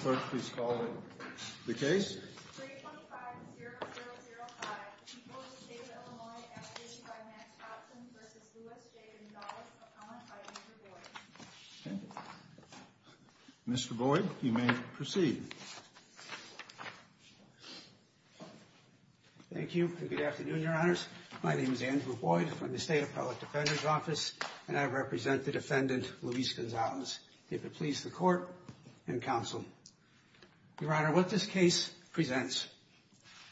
first. Please call the case. Mr Boyd, you may proceed. Thank you. Good afternoon, Your Honors. My name is Andrew Boyd from the State Appellate Defender's Office, and I represent the defendant, Luis Gonzalez. If it pleases the court and counsel, Your Honor, what this case presents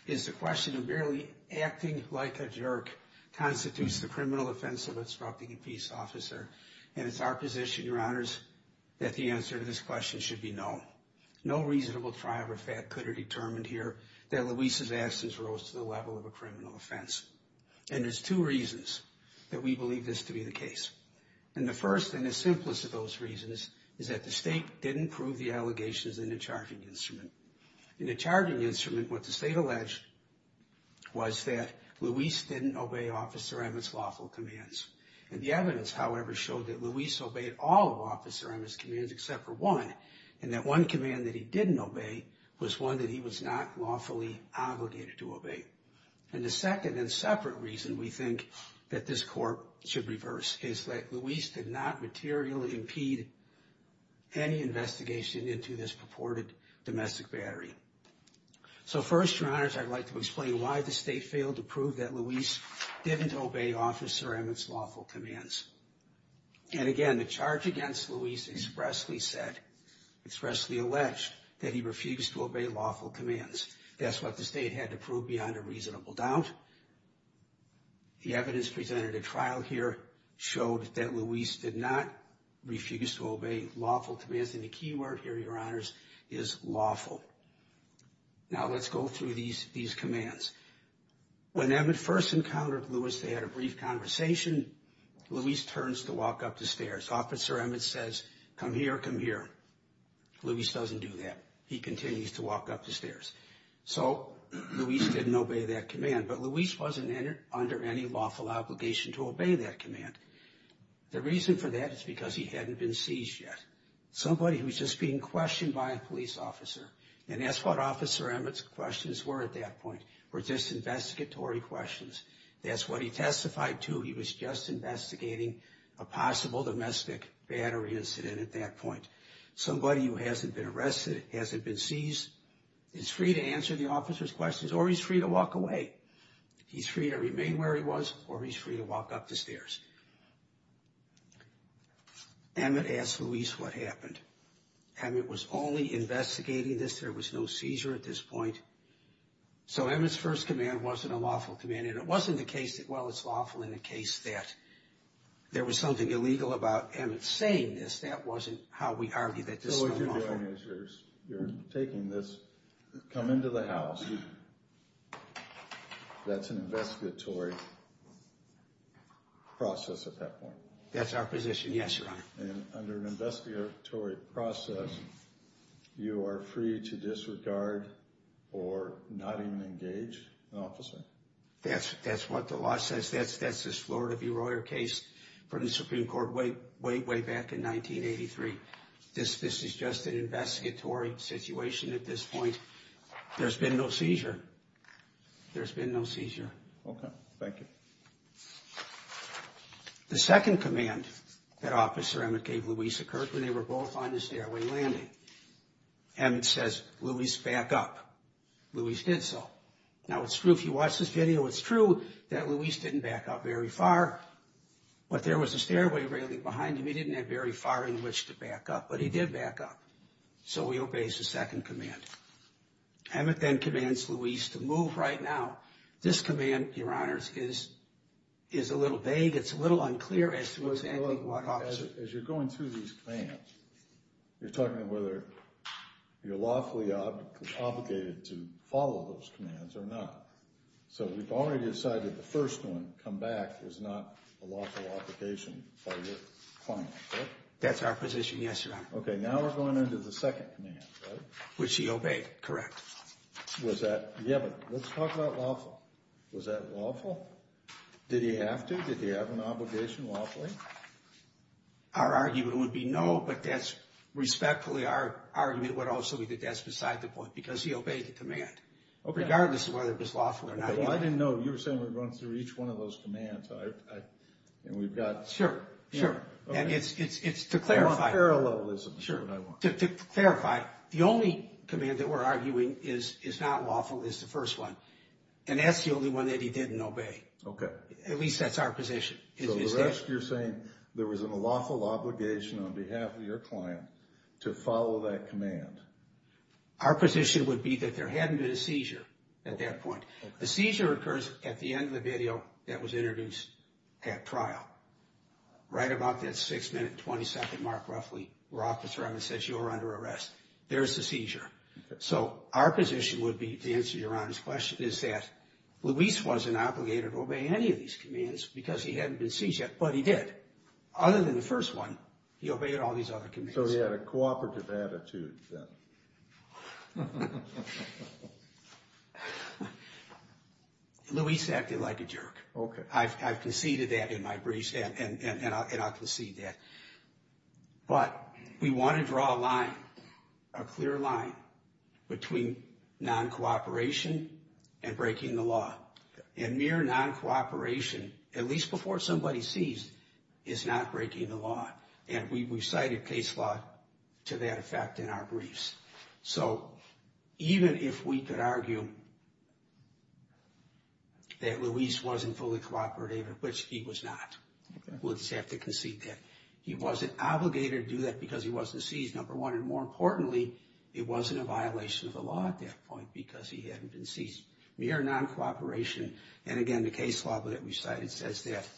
is the question of barely acting like a jerk constitutes the criminal offense of instructing a peace officer. And it's our position, Your Honors, that the answer to this question should be no. No reasonable tribe or fact could have determined here that Luis's absence rose to the level of a criminal offense. And there's two reasons that we believe this to be the case. And the first and the simplest of those reasons is that the state didn't prove the allegations in the charging instrument. In the charging instrument, what the state alleged was that Luis didn't obey Officer Emmett's lawful commands. And the evidence, however, showed that Luis obeyed all of Officer Emmett's commands except for one, and that one command that he didn't obey was one that he was not lawfully obligated to obey. And the second and separate reason we think that this court should reverse is that Luis did not materially impede any investigation into this purported domestic battery. So first, Your Honors, I'd like to explain why the state failed to prove that Luis didn't obey Officer Emmett's lawful commands. And again, the charge against Luis expressly said, expressly alleged, that he refused to obey lawful commands. That's what the state had to prove beyond a reasonable doubt. The evidence presented at trial here showed that Luis did not refuse to obey lawful commands. And the key word here, Your Honors, is lawful. Now, let's go through these commands. When Emmett first encountered Luis, they had a brief conversation. Luis turns to walk up the stairs. Officer Emmett says, come here, come here. Luis doesn't do that. He continues to walk up the stairs. So Luis didn't obey that command. But Luis wasn't under any lawful obligation to obey that command. The reason for that is because he hadn't been seized yet. Somebody who was just being questioned by a police officer. And that's what Officer Emmett's questions were at that point, were just investigatory questions. That's what he testified to. He was just investigating a possible domestic battery incident at that point. Somebody who hasn't been arrested, hasn't been seized, is free to answer the officer's questions, or he's free to walk away. He's free to remain where he was, or he's free to walk up the stairs. Emmett asked Luis what happened. Emmett was only investigating this. There was no seizure at this point. So Emmett's first command wasn't a lawful command. And it wasn't the case that, well, it's lawful in the case that there was something illegal about Emmett saying this. That wasn't how we argue that this was lawful. So what you're doing is you're taking this, come into the house. That's an investigatory process at that point. That's our position. Yes, Your Honor. And under an investigatory process, you are free to disregard or not even engage an officer. That's what the law says. That's this Florida B. Royer case from the Supreme Court way, way, way back in 1983. This is just an investigatory situation at this point. There's been no seizure. There's been no seizure. Okay. Thank you. The second command that Officer Emmett gave Luis occurred when they were both on the stairway landing. Emmett says, Luis, back up. Luis did so. Now it's true, if you watch this video, it's true that Luis didn't back up very far, but there was a stairway railing behind him. He didn't have very far in which to back up, but he did back up. So he obeys the second command. Emmett then commands Luis to move right now. This command, Your Honors, is a little vague. It's a little unclear as to what's happening. As you're going through these commands, you're talking about whether you're lawfully obligated to follow those commands or not. So we've already decided the first one, come back, is not a lawful obligation by your client, correct? That's our position, yes, Your Honor. Okay, now we're going into the second command, right? Which he obeyed, correct. Was that, yeah, but let's talk about lawful. Was that lawful? Did he have to? Did he have an obligation lawfully? Our argument would be no, but that's respectfully our argument would also be that that's beside the point, because he obeyed the command, regardless of whether it was lawful or not. Well, I didn't know. You were saying we're going through each one of those commands, and we've got... Sure, sure, and it's to clarify. I want parallelism is what I want. Sure, to clarify, the only command that we're arguing is not lawful is the first one, and that's the only one that he didn't obey. Okay. At least that's our position. So the rest, you're saying there was a lawful obligation on behalf of your client to follow that command? Our position would be that there hadn't been a seizure at that point. The seizure occurs at the end of the video that was introduced at trial, right about that 6 minute, 20 second mark, roughly, where Officer Evans says, you're under arrest. There's the seizure. So our position would be, to answer Your Honor's question, is that Luis wasn't obligated to obey any of these commands because he hadn't been seized yet, but he did. Other than the first one, he obeyed all these other commands. So he had a cooperative attitude then. Luis acted like a jerk. Okay. I've conceded that in my briefs, and I'll concede that. But we want to draw a line, a clear line, between non-cooperation and breaking the law. And mere non-cooperation, at least before somebody's seized, is not breaking the law. And we've cited case law to that effect in our briefs. So even if we could argue that Luis wasn't fully cooperative, which he was not, we'll just have to concede that he wasn't obligated to do that because he wasn't seized, number one. And more importantly, it wasn't a violation of the law at that point because he hadn't been seized. Mere non-cooperation, and again, the case law that we cited says that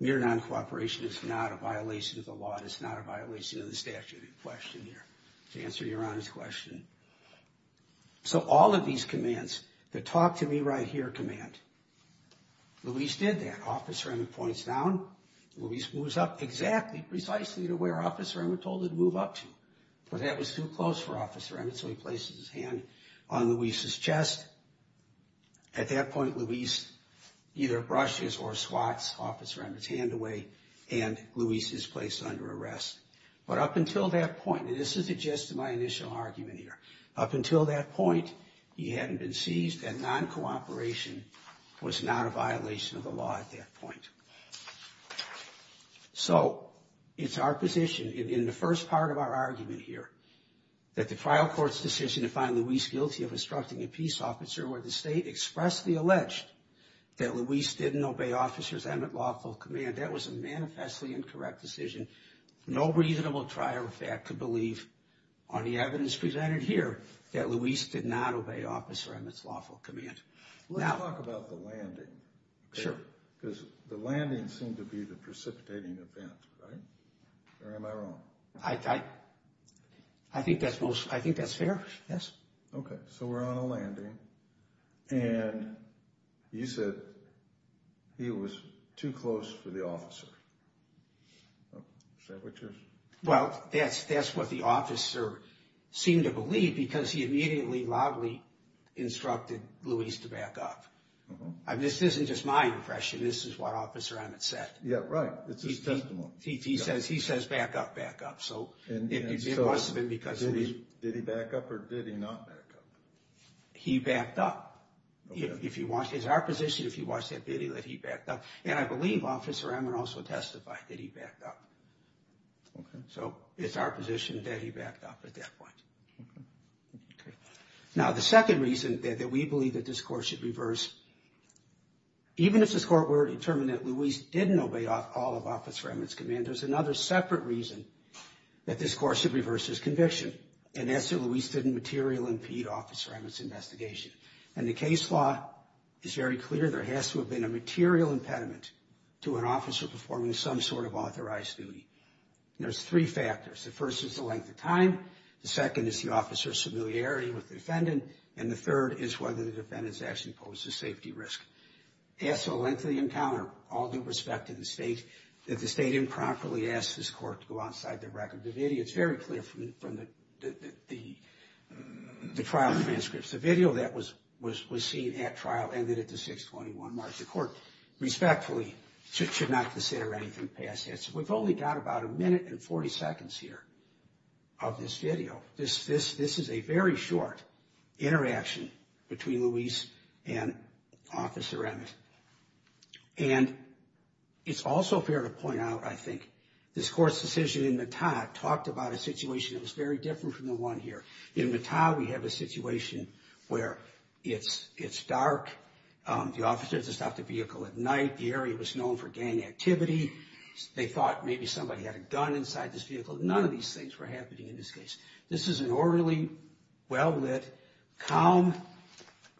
mere non-cooperation is not a violation of the law. It's not a violation of the statute of question here, to answer Your Honor's question. So all of these commands, the talk to me right here command, Luis did that. Officer Emmett points down. Luis moves up exactly, precisely to where Officer Emmett told him to move up to. But that was too close for Officer Emmett, so he places his hand on Luis's chest. At that point, Luis either brushes or swats Officer Emmett's hand away, and Luis is placed under arrest. But up until that point, and this is just my initial argument here, up until that point, he hadn't been seized, and non-cooperation was not a violation of the law at that point. So it's our position, in the first part of our argument here, that the trial court's decision to find Luis guilty of obstructing a peace officer where the state expressly alleged that Luis didn't obey Officer Emmett's lawful command, that was a manifestly incorrect decision. No reasonable trial fact could believe on the evidence presented here that Luis did not obey Officer Emmett's lawful command. Let's talk about the landing. Sure. Because the landing seemed to be the precipitating event, right? Or am I I think that's most, I think that's fair, yes. Okay, so we're on a landing, and you said he was too close for the officer. Well, that's what the officer seemed to believe because he immediately loudly instructed Luis to back up. This isn't just my impression. This is what Officer Emmett said. Yeah, right. It's his testimony. He says, he says, back up, back up. And so, did he back up or did he not back up? He backed up. If you watch, it's our position, if you watch that video, that he backed up. And I believe Officer Emmett also testified that he backed up. So it's our position that he backed up at that point. Now, the second reason that we believe that this court should reverse, even if this court were determined that Luis didn't obey all of Officer Emmett's command, there's another separate reason. That this court should reverse his conviction. And that's so Luis didn't material impede Officer Emmett's investigation. And the case law is very clear. There has to have been a material impediment to an officer performing some sort of authorized duty. There's three factors. The first is the length of time. The second is the officer's familiarity with the defendant. And the third is whether the defendant has actually posed a safety risk. As to the length of the encounter, all due respect to the state, that the state improperly asked this court to go outside the record. The video is very clear from the trial transcripts. The video that was seen at trial ended at the 6-21 March. The court, respectfully, should not consider anything past that. So we've only got about a minute and 40 seconds here of this video. This is a very short interaction between Luis and Officer Emmett. And it's also fair to point out, I think, this court's decision in Mattah talked about a situation that was very different from the one here. In Mattah, we have a situation where it's dark. The officer just stopped the vehicle at night. The area was known for gang activity. They thought maybe somebody had a gun inside this vehicle. None of these things were happening in this case. This is an orderly, well-lit, calm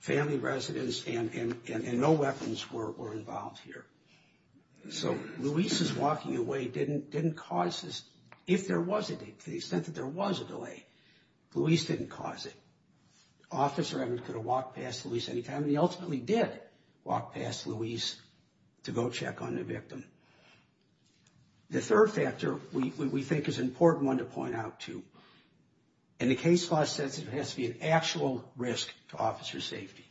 family residence. And no weapons were involved here. So Luis's walking away didn't cause this, if there was a delay, to the extent that there was a delay, Luis didn't cause it. Officer Emmett could have walked past Luis anytime. He ultimately did walk past Luis to go check on the victim. The third factor, we think, is an important one to point out, too. In the case law sense, it has to be an actual risk to officer's safety.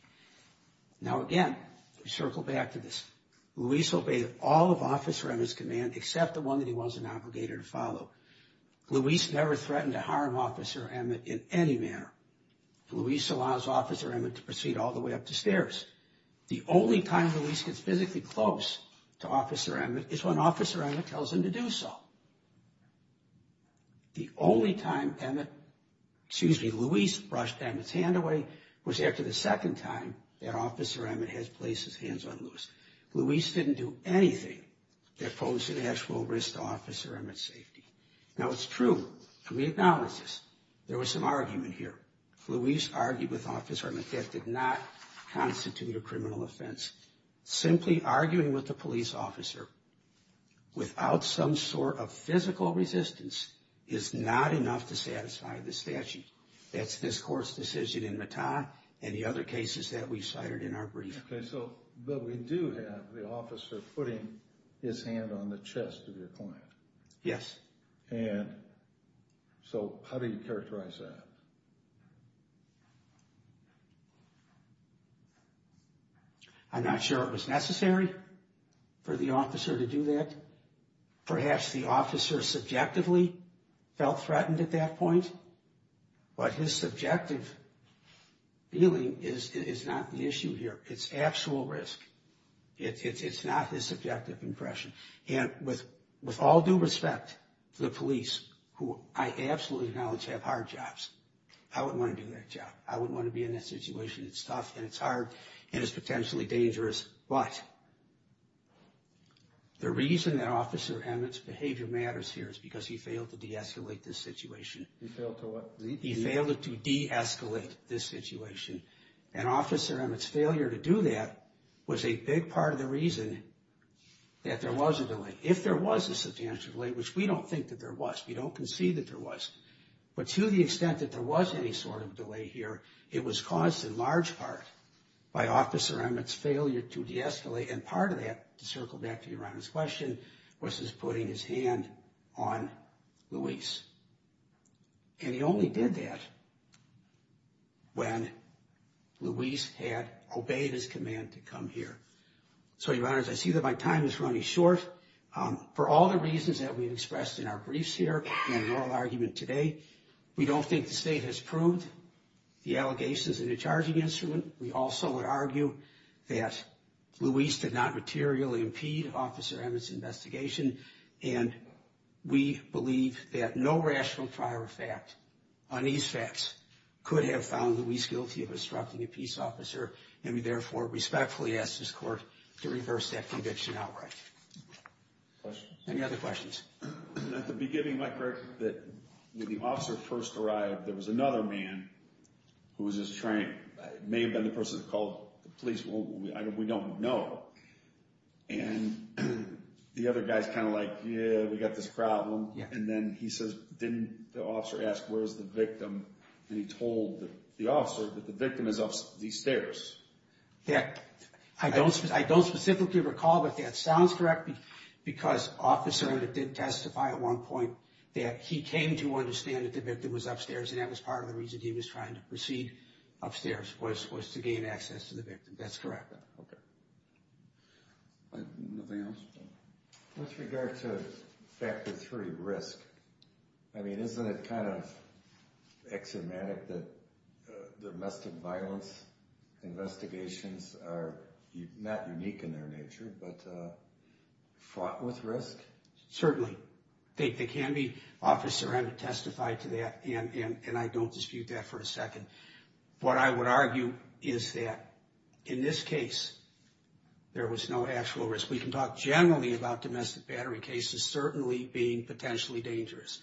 Now, again, we circle back to this. Luis obeyed all of officer Emmett's command, except the one that he wasn't obligated to follow. Luis never threatened to harm officer Emmett in any manner. Luis allows officer Emmett to proceed all the way up the stairs. The only time Luis gets physically close to officer Emmett is when officer Emmett tells him to do so. The only time Emmett, excuse me, Luis brushed Emmett's hand away was after the second time that officer Emmett has placed his hands on Luis. Luis didn't do anything that poses an actual risk to officer Emmett's safety. Now, it's true, and we acknowledge this, there was some argument here. Luis argued with officer Emmett that did not constitute a criminal offense. Simply arguing with the police officer without some sort of physical resistance is not enough to satisfy the statute. That's this court's decision in Mattah and the other cases that we cited in our brief. Okay, so, but we do have the officer putting his hand on the chest of your client. Yes. And so, how do you characterize that? I'm not sure it was necessary for the officer to do that. Perhaps the officer subjectively felt threatened at that point. But his subjective feeling is not the issue here. It's actual risk. It's not his subjective impression. And with all due respect to the police, who I absolutely acknowledge have hard jobs, I wouldn't want to do that job. I wouldn't want to be in that situation. It's tough and it's hard and it's potentially dangerous. But the reason that officer Emmett's behavior matters here is because he failed to de-escalate this situation. He failed to what? He failed to de-escalate this situation. And officer Emmett's failure to do that was a big part of the reason that there was a delay. If there was a substantial delay, which we don't think that there was. We don't concede that there was. But to the extent that there was any sort of delay here, it was caused in large part by officer Emmett's failure to de-escalate. And part of that, to circle back to your honest question, was his putting his hand on Louise. And he only did that when Louise had obeyed his command to come here. So your honors, I see that my time is running short. For all the reasons that we've expressed in our briefs here and in oral argument today, we don't think the state has proved the allegations in a charging instrument. We also would argue that Louise did not materially impede officer Emmett's investigation. And we believe that no rational prior fact on these facts could have found Louise guilty of obstructing a peace officer. And we therefore respectfully ask this court to reverse that conviction outright. Any other questions? At the beginning, my question is that when the officer first arrived, there was another man who was his train. It may have been the person who called the police. We don't know. And the other guy's kind of like, yeah, we got this problem. And then he says, didn't the officer ask, where's the victim? And he told the officer that the victim is up these stairs. Yeah, I don't specifically recall, but that sounds correct. Because officer Emmett did testify at one point that he came to understand that the victim was upstairs. And that was part of the reason he was trying to proceed upstairs was to gain access to the victim. That's correct. Okay. Anything else? With regard to factor three, risk. I mean, isn't it kind of axiomatic that domestic violence investigations are not unique in their nature, but fought with risk? They can be officer Emmett testified to that. And I don't dispute that for a second. What I would argue is that in this case, there was no actual risk. We can talk generally about domestic battery cases certainly being potentially dangerous.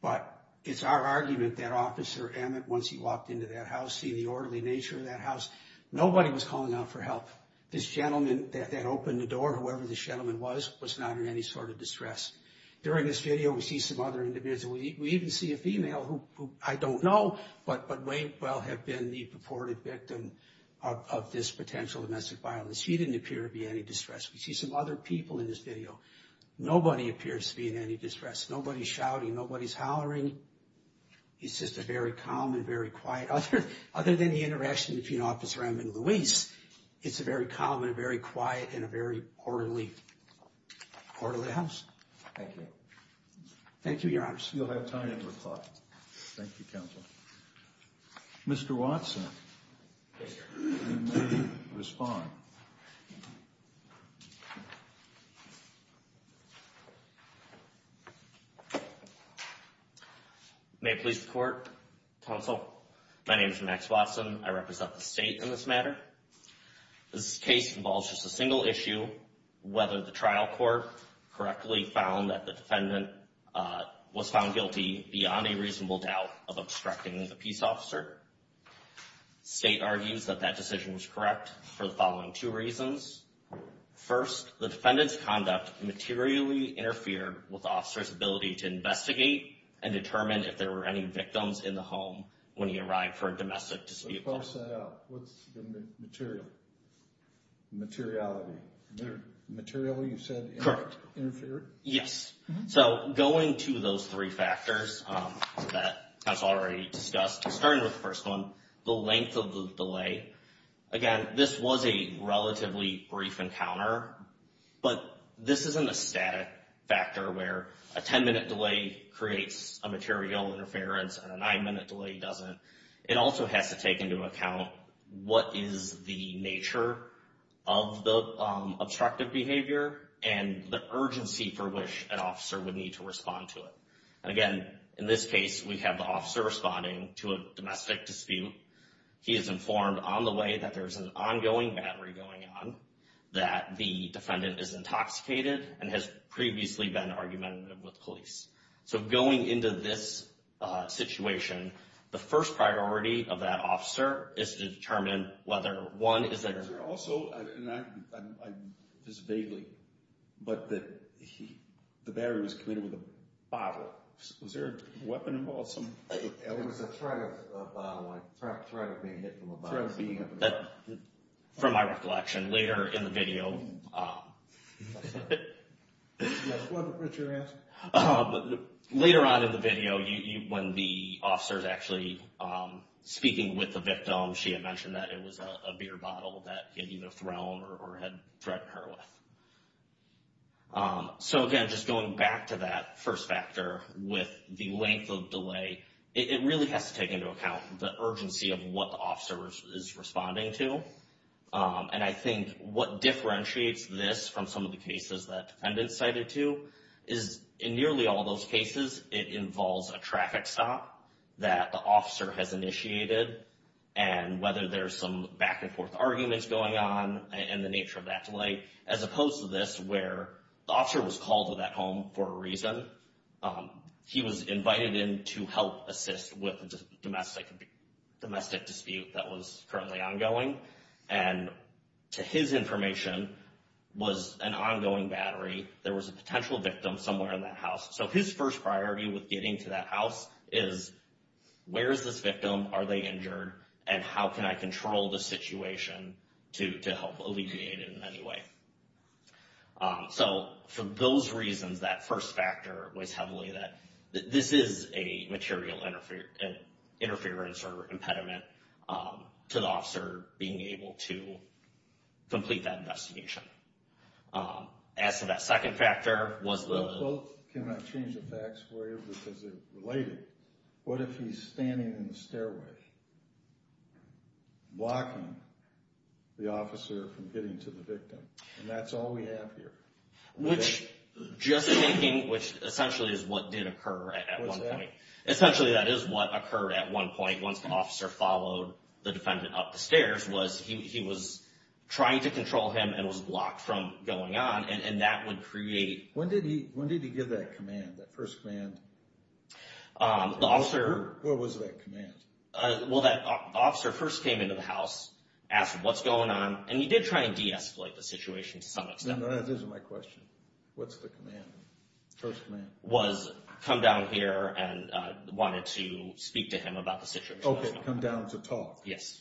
But it's our argument that officer Emmett, once he walked into that house, see the orderly nature of that house. Nobody was calling out for help. This gentleman that opened the door, whoever the gentleman was, was not in any sort of distress. During this video, we see some other individuals. We even see a female who I don't know, but may well have been the purported victim of this potential domestic violence. She didn't appear to be any distress. We see some other people in this video. Nobody appears to be in any distress. Nobody's shouting. Nobody's hollering. It's just a very calm and very quiet. Other than the interaction between officer Emmett and Louise, it's a very calm and a very quiet and a very orderly house. Thank you. Thank you, your honors. You'll have time to reply. Thank you, counsel. Mr. Watson. Respond. May I please report, counsel? My name is Max Watson. I represent the state in this matter. This case involves just a single issue, whether the trial court correctly found that the defendant was found guilty beyond a reasonable doubt of obstructing the peace officer. State argues that that decision was correct for the following two reasons. First, the defendant's conduct materially interfered with the officer's ability to investigate and determine if there were any victims in the home when he arrived for a domestic dispute. What's the material? Materiality. Material, you said? Correct. Yes. So going to those three factors that counsel already discussed, starting with the first one, the length of the delay. Again, this was a relatively brief encounter, but this isn't a static factor where a 10-minute delay creates a material interference and a nine-minute delay doesn't. It also has to take into account what is the nature of the obstructive behavior and the urgency for which an officer would need to respond to it. And again, in this case, we have the officer responding to a domestic dispute. He is informed on the way that there's an ongoing battery going on, that the defendant is intoxicated and has previously been argumentative with police. So going into this situation, the first priority of that officer is to determine whether, one, is there... Is there also, and this is vaguely, but that the battery was committed with a bottle. Was there a weapon involved? It was a threat of a bottle, a threat of being hit with a bottle. A threat of being hit with a bottle. From my recollection, later in the video... Yes, what's your answer? Later on in the video, when the officer's actually speaking with the victim, she had mentioned that it was a beer bottle that had either thrown or had threatened her with. So again, just going back to that first factor with the length of delay, it really has to take into account the urgency of what the officer is responding to. And I think what differentiates this from some of the cases that defendants cited to is, in nearly all those cases, it involves a traffic stop that the officer has initiated, and whether there's some back-and-forth arguments going on, and the nature of that delay, as opposed to this, where the officer was called to that home for a reason. He was invited in to help assist with the domestic dispute that was currently ongoing, and to his information, was an ongoing battery. There was a potential victim somewhere in that house. So his first priority with getting to that house is, where's this victim, are they injured, and how can I control the situation to help alleviate it in any way? So for those reasons, that first factor weighs heavily that this is a material interference or impediment to the officer being able to complete that investigation. As to that second factor, was the... Well, can I change the facts for you, because they're related. What if he's standing in the stairway, blocking the officer from getting to the victim? And that's all we have here. Which, just thinking, which essentially is what did occur at one point. Essentially, that is what occurred at one point, once the officer followed the defendant up the stairs, was he was trying to control him, and was blocked from going on. And that would create... When did he give that command, that first command? The officer... What was that command? Well, that officer first came into the house, asked what's going on, and he did try and de-escalate the situation to some extent. No, no, that isn't my question. What's the command, first command? Was, come down here and wanted to speak to him about the situation. Okay, come down to talk. Yes.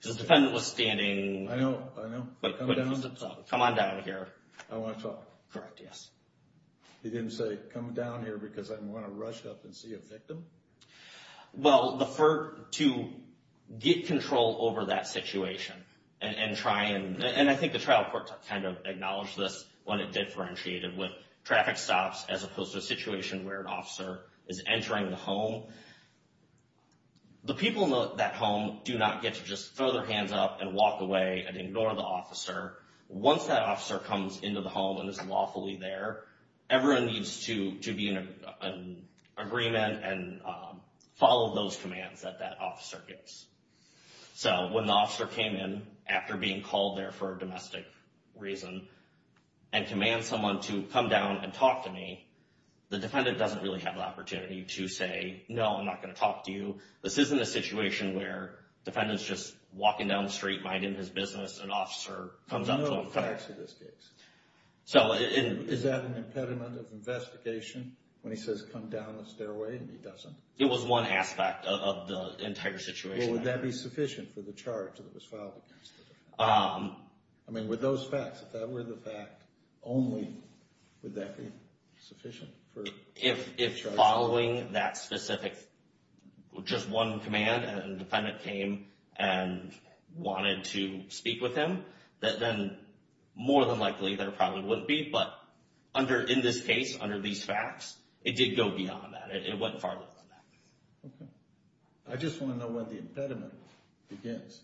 Because the defendant was standing... I know, I know. Come on down here. I want to talk. Correct, yes. He didn't say, come down here because I want to rush up and see a Well, to get control over that situation, and try and... And I think the trial court kind of acknowledged this when it differentiated with traffic stops, as opposed to a situation where an officer is entering the home. The people in that home do not get to just throw their hands up and walk away and ignore the officer. Once that officer comes into the home and is lawfully there, everyone needs to be in agreement and follow those commands that that officer gives. So when the officer came in, after being called there for a domestic reason, and commands someone to come down and talk to me, the defendant doesn't really have an opportunity to say, no, I'm not going to talk to you. This isn't a situation where the defendant is just walking down the street, minding his business, and an officer comes up to him... There's no facts in this case. So is that an impediment of investigation when he says, come down the stairway, and he doesn't? It was one aspect of the entire situation. Would that be sufficient for the charge that was filed against the defendant? I mean, with those facts, if that were the fact, only would that be sufficient? If following that specific, just one command, and the defendant came and wanted to speak with him, then more than likely, there probably wouldn't be. But in this case, under these facts, it did go beyond that. It went far beyond that. I just want to know when the impediment begins.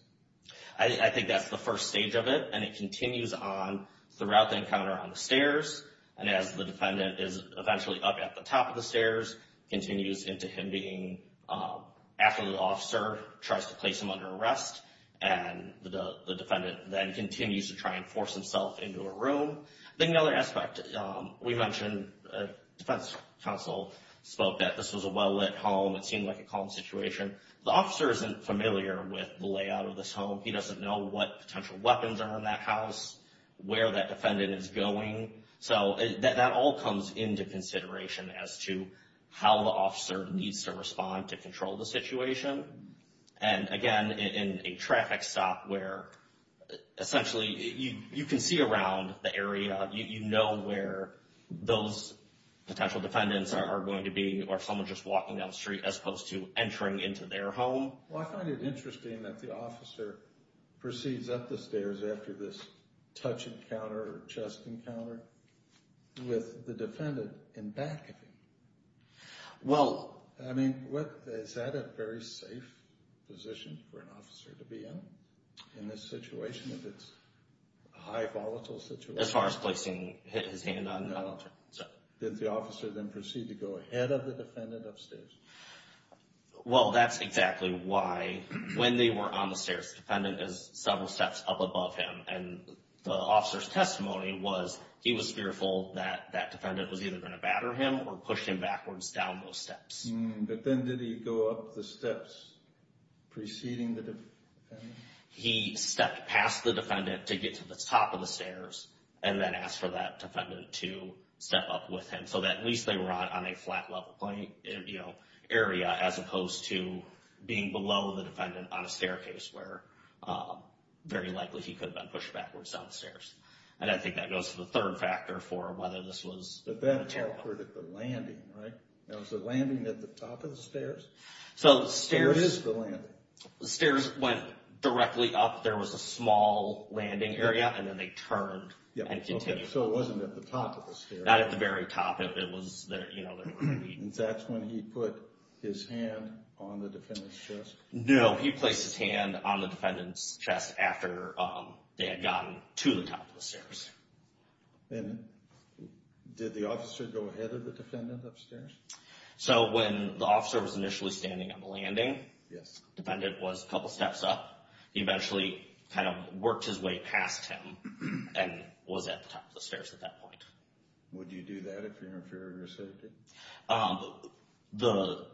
I think that's the first stage of it, and it continues on throughout the encounter on the stairs, and as the defendant is eventually up at the top of the stairs, it continues into him being, after the officer tries to place him under arrest, and the defendant then continues to try and force himself into a room. Then the other aspect, we mentioned, the defense counsel spoke that this was a well-lit home. It seemed like a calm situation. The officer isn't familiar with the layout of this home. He doesn't know what potential weapons are in that house, where that defendant is going. So, that all comes into consideration as to how the officer needs to respond to control the situation, and again, in a traffic stop where, essentially, you can see around the area. You know where those potential defendants are going to be, or someone just walking down the street, as opposed to entering into their home. Well, I find it interesting that the officer proceeds up the stairs after this touch encounter, or chest encounter, with the defendant in back of him. Well... I mean, is that a very safe position for an officer to be in, in this situation, if it's a high volatile situation? As far as placing his hand on the... No. So... Did the officer then proceed to go ahead of the defendant upstairs? Well, that's exactly why, when they were on the stairs, the defendant is several steps up above him, and the officer's testimony was, he was fearful that that defendant was either going to batter him, or push him backwards down those steps. But then, did he go up the steps preceding the defendant? He stepped past the defendant to get to the top of the stairs, and then asked for that defendant to step up with him, so that at least they were on a flat level area, as opposed to being below the defendant on a staircase, where very likely he could have been pushed backwards down the stairs. And I think that goes to the third factor for whether this was... But that occurred at the landing, right? That was the landing at the top of the stairs? So, the stairs... Where is the landing? The stairs went directly up. There was a small landing area, and then they turned, and continued. So, it wasn't at the top of the stairs? Not at the very top of it. It was, you know... And that's when he put his hand on the defendant's chest? No, he placed his hand on the defendant's chest after they had gotten to the top of the stairs. And did the officer go ahead of the defendant upstairs? So, when the officer was initially standing on the landing, the defendant was a couple steps up. He eventually kind of worked his way past him, and was at the top of the stairs at that point. Would you do that if you were in fear of your safety? The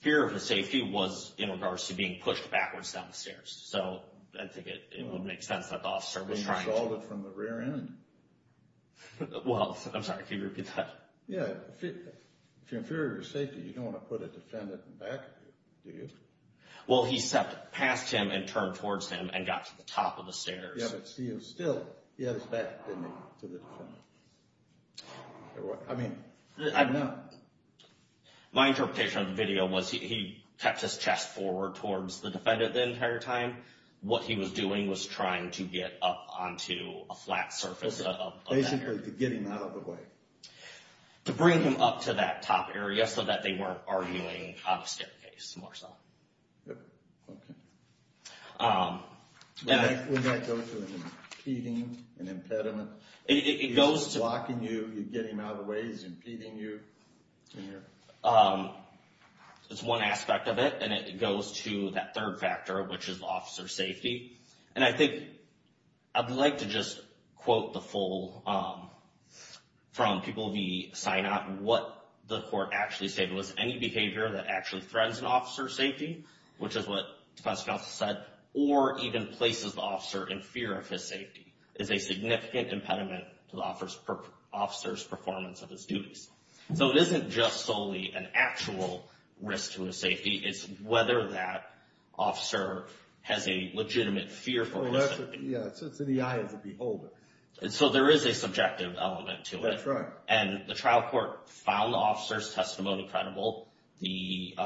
fear of his safety was in regards to being pushed backwards down the So, I think it would make sense that the officer was trying to... He was assaulted from the rear end. Well, I'm sorry, can you repeat that? Yeah. If you're in fear of your safety, you don't want to put a defendant in back of you, do you? Well, he stepped past him, and turned towards him, and got to the top of the stairs. Yeah, but still, he had his back, didn't he, to the defendant? I mean, I don't know. My interpretation of the video was, he kept his chest forward towards the defendant the entire time. What he was doing was trying to get up onto a flat surface of that area. Basically, to get him out of the way. To bring him up to that top area, so that they weren't arguing on a staircase, more so. Yep, okay. Would that go to an impeding, an impediment? If he's blocking you, you get him out of the way, he's impeding you? It's one aspect of it, and it goes to that third factor, which is officer safety. And I think, I'd like to just quote the full, from people we sign up, what the court actually stated was, any behavior that actually threatens an officer's safety, which is what the defense counsel said, or even places the officer in fear of his safety. Is a significant impediment to the officer's performance of his duties. So it isn't just solely an actual risk to his safety, it's whether that officer has a legitimate fear for his safety. So it's in the eye of the beholder. So there is a subjective element to it. That's right. And the trial court found the officer's testimony credible. The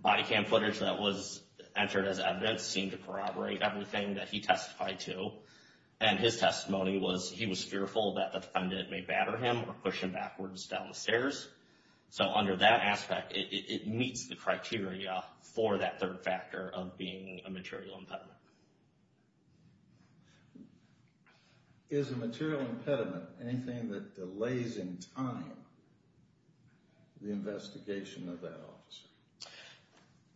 body cam footage that was entered as evidence seemed to corroborate everything that he testified to. And his testimony was, he was fearful that the defendant may batter him, or push him backwards down the stairs. So under that aspect, it meets the criteria for that third factor of being a material impediment. Is a material impediment anything that delays in time the investigation of that officer?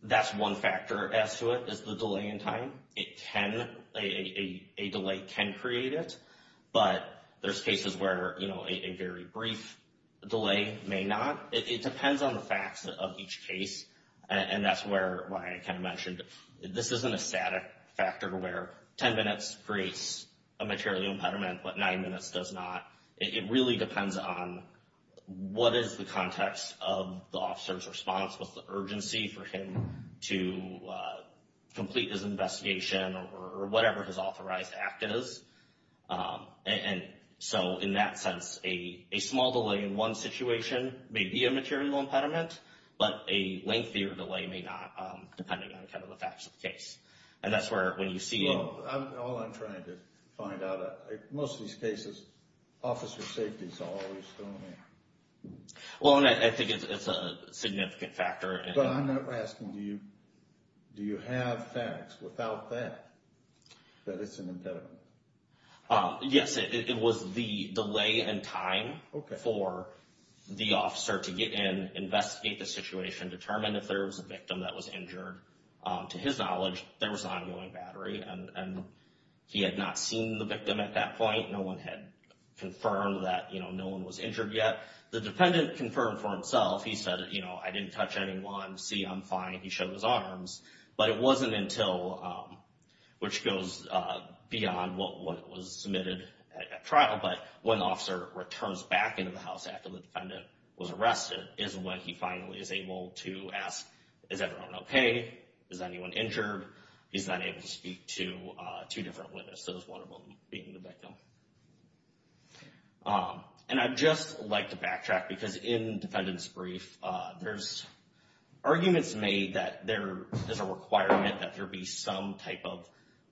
That's one factor as to it, is the delay in time. It can, a delay can create it. But there's cases where a very brief delay may not. It depends on the facts of each case. And that's why I kind of mentioned, this isn't a static factor where 10 minutes creates a material impediment, but nine minutes does not. It really depends on what is the context of the officer's response, what's the urgency for him to complete his investigation, or whatever his authorized act is. And so in that sense, a small delay in one situation may be a material impediment, but a lengthier delay may not, depending on kind of the facts of And that's where, when you see... Well, all I'm trying to find out, most of these cases, officer safety's always still there. Well, and I think it's a significant factor. But I'm not asking, do you have facts without that, that it's an impediment? Yes, it was the delay in time for the officer to get in, investigate the situation, determine if there was a victim that was injured. To his knowledge, there was an ongoing battery, and he had not seen the victim at that point. No one had confirmed that no one was injured yet. The defendant confirmed for himself. He said, I didn't touch anyone. See, I'm fine. He showed his arms. But it wasn't until, which goes beyond what was submitted at trial, but when the officer returns back into the house after the defendant was arrested is when he finally is able to ask, is everyone okay? Is anyone injured? He's not able to speak to two different witnesses, one of them being the victim. And I'd just like to backtrack because in defendant's brief, there's arguments made that there is a requirement that there be some type of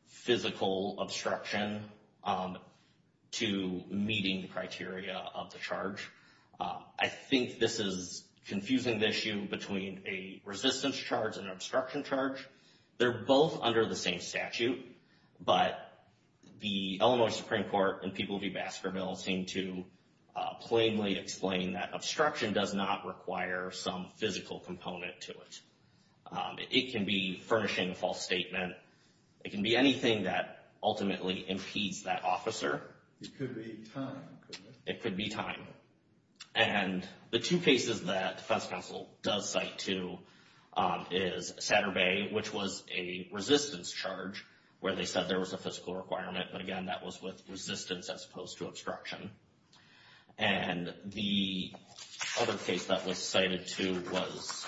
physical obstruction to meeting the criteria of the charge. I think this is confusing the issue between a resistance charge and an obstruction charge. They're both under the same statute, but the Illinois Supreme Court and people who do basketball seem to plainly explain that obstruction does not require some physical component to it. It can be furnishing a false statement. It can be anything that ultimately impedes that officer. It could be time. It could be time. And the two cases that defense counsel does cite to is Satterbay, which was a resistance charge where they said there was a physical requirement. But again, that was with resistance as opposed to obstruction. And the other case that was cited to was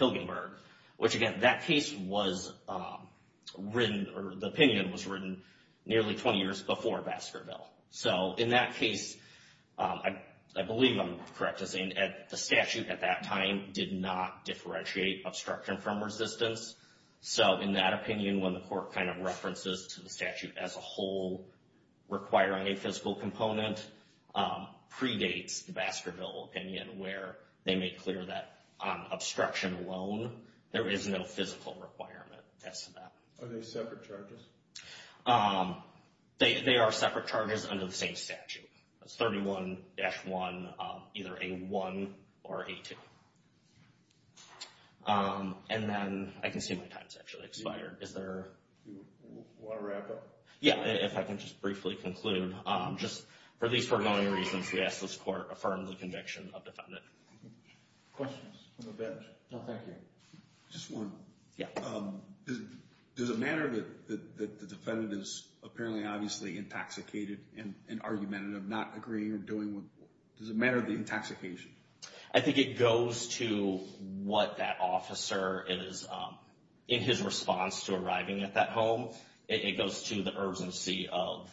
Hilgenberg, which again, that case was written or the opinion was written nearly 20 years before Baskerville. So in that case, I believe I'm correct in saying that the statute at that time did not differentiate obstruction from resistance. So in that opinion, when the court kind of references to the statute as a whole, requiring a physical component, predates the Baskerville opinion where they make clear that on obstruction alone, there is no physical requirement as to that. Are they separate charges? They are separate charges under the same statute. That's 31-1, either A-1 or A-2. And then I can see my time's actually expired. Is there... Do you want to wrap up? Yeah, if I can just briefly conclude. Just for at least foregoing reasons, we ask this court affirm the conviction of defendant. Questions from the bench? No, thank you. Just one. Yeah. Does it matter that the defendant is apparently obviously intoxicated and argumentative, not agreeing or doing what... Does it matter the intoxication? I think it goes to what that officer is... In his response to arriving at that home, it goes to the urgency of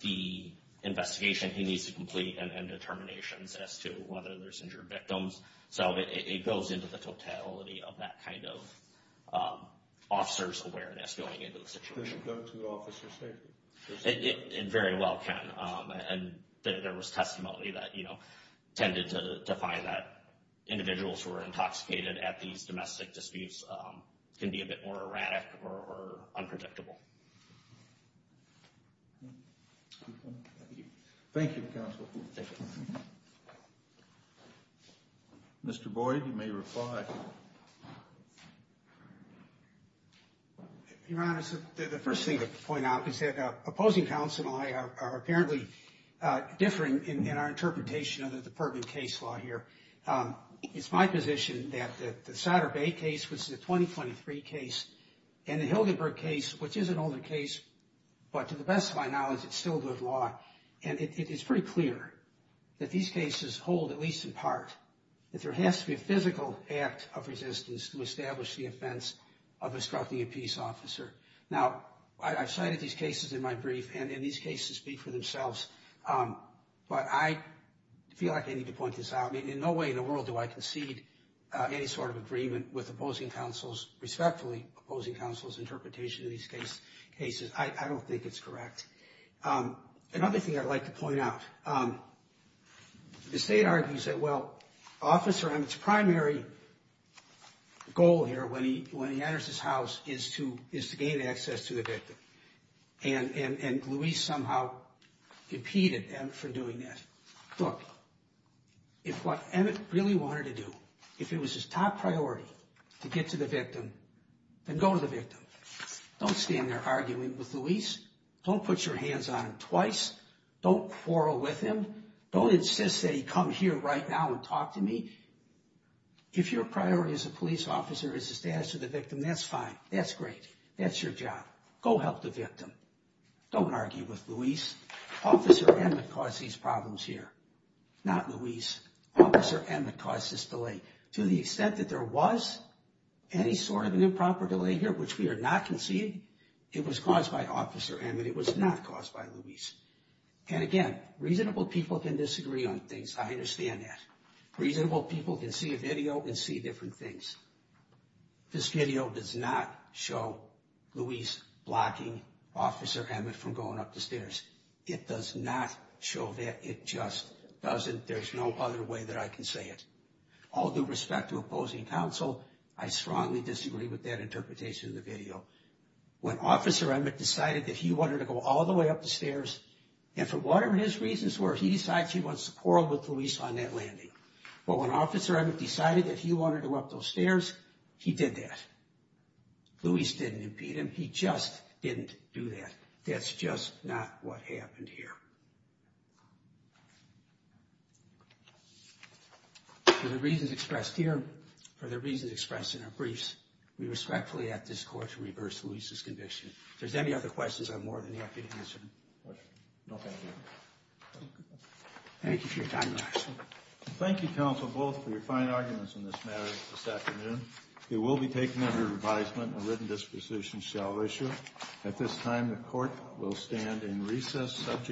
the investigation he needs to complete and determinations as to whether there's injured victims. So it goes into the totality of that kind of officer's awareness going into the situation. Does it go to the officer's safety? It very well can. And there was testimony that tended to find that individuals who are intoxicated at these domestic disputes can be a bit more erratic or unpredictable. Thank you, counsel. Thank you. Mr. Boyd, you may reply. Your Honor, the first thing to point out is that opposing counsel and I are apparently differing in our interpretation of the Perkins case law here. It's my position that the Souder Bay case, which is a 2023 case, and the Hildenburg case, which is an older case, but to the best of my knowledge, it's still good law. And it's pretty clear that these cases hold, at least in part, that there has to be a physical act of resistance to establish the offense of obstructing a peace officer. Now, I've cited these cases in my brief and in these cases speak for themselves. But I feel like I need to point this out. I mean, in no way in the world do I concede any sort of agreement with opposing counsel's, respectfully, opposing counsel's interpretation of these cases. I don't think it's correct. Another thing I'd like to point out, the state argues that, well, Officer Emmett's primary goal here when he enters his house is to gain access to the victim. And Luis somehow impeded Emmett from doing that. Look, if what Emmett really wanted to do, if it was his top priority to get to the victim, then go to the victim. Don't stand there arguing with Luis. Don't put your hands on him twice. Don't quarrel with him. Don't insist that he come here right now and talk to me. If your priority as a police officer is the status of the victim, that's fine. That's great. That's your job. Go help the victim. Don't argue with Luis. Officer Emmett caused these problems here, not Luis. Officer Emmett caused this delay. To the extent that there was any sort of an improper delay here, which we are not conceding, it was caused by Officer Emmett. It was not caused by Luis. And again, reasonable people can disagree on things. I understand that. Reasonable people can see a video and see different things. This video does not show Luis blocking Officer Emmett from going up the stairs. It does not show that. It just doesn't. There's no other way that I can say it. All due respect to opposing counsel, I strongly disagree with that interpretation of the video. When Officer Emmett decided that he wanted to go all the way up the stairs, and for whatever his reasons were, he decides he wants to quarrel with Luis on that landing. But when Officer Emmett decided that he wanted to go up those stairs, he did that. Luis didn't impede him. He just didn't do that. That's just not what happened here. For the reasons expressed here, for the reasons expressed in our briefs, we respectfully ask this Court to reverse Luis's conviction. If there's any other questions, I'm more than happy to answer them. No further questions. Thank you for your time, counsel. Thank you, counsel, both, for your fine arguments on this matter this afternoon. It will be taken under revisement. A written disposition shall issue. At this time, the Court will stand in recess.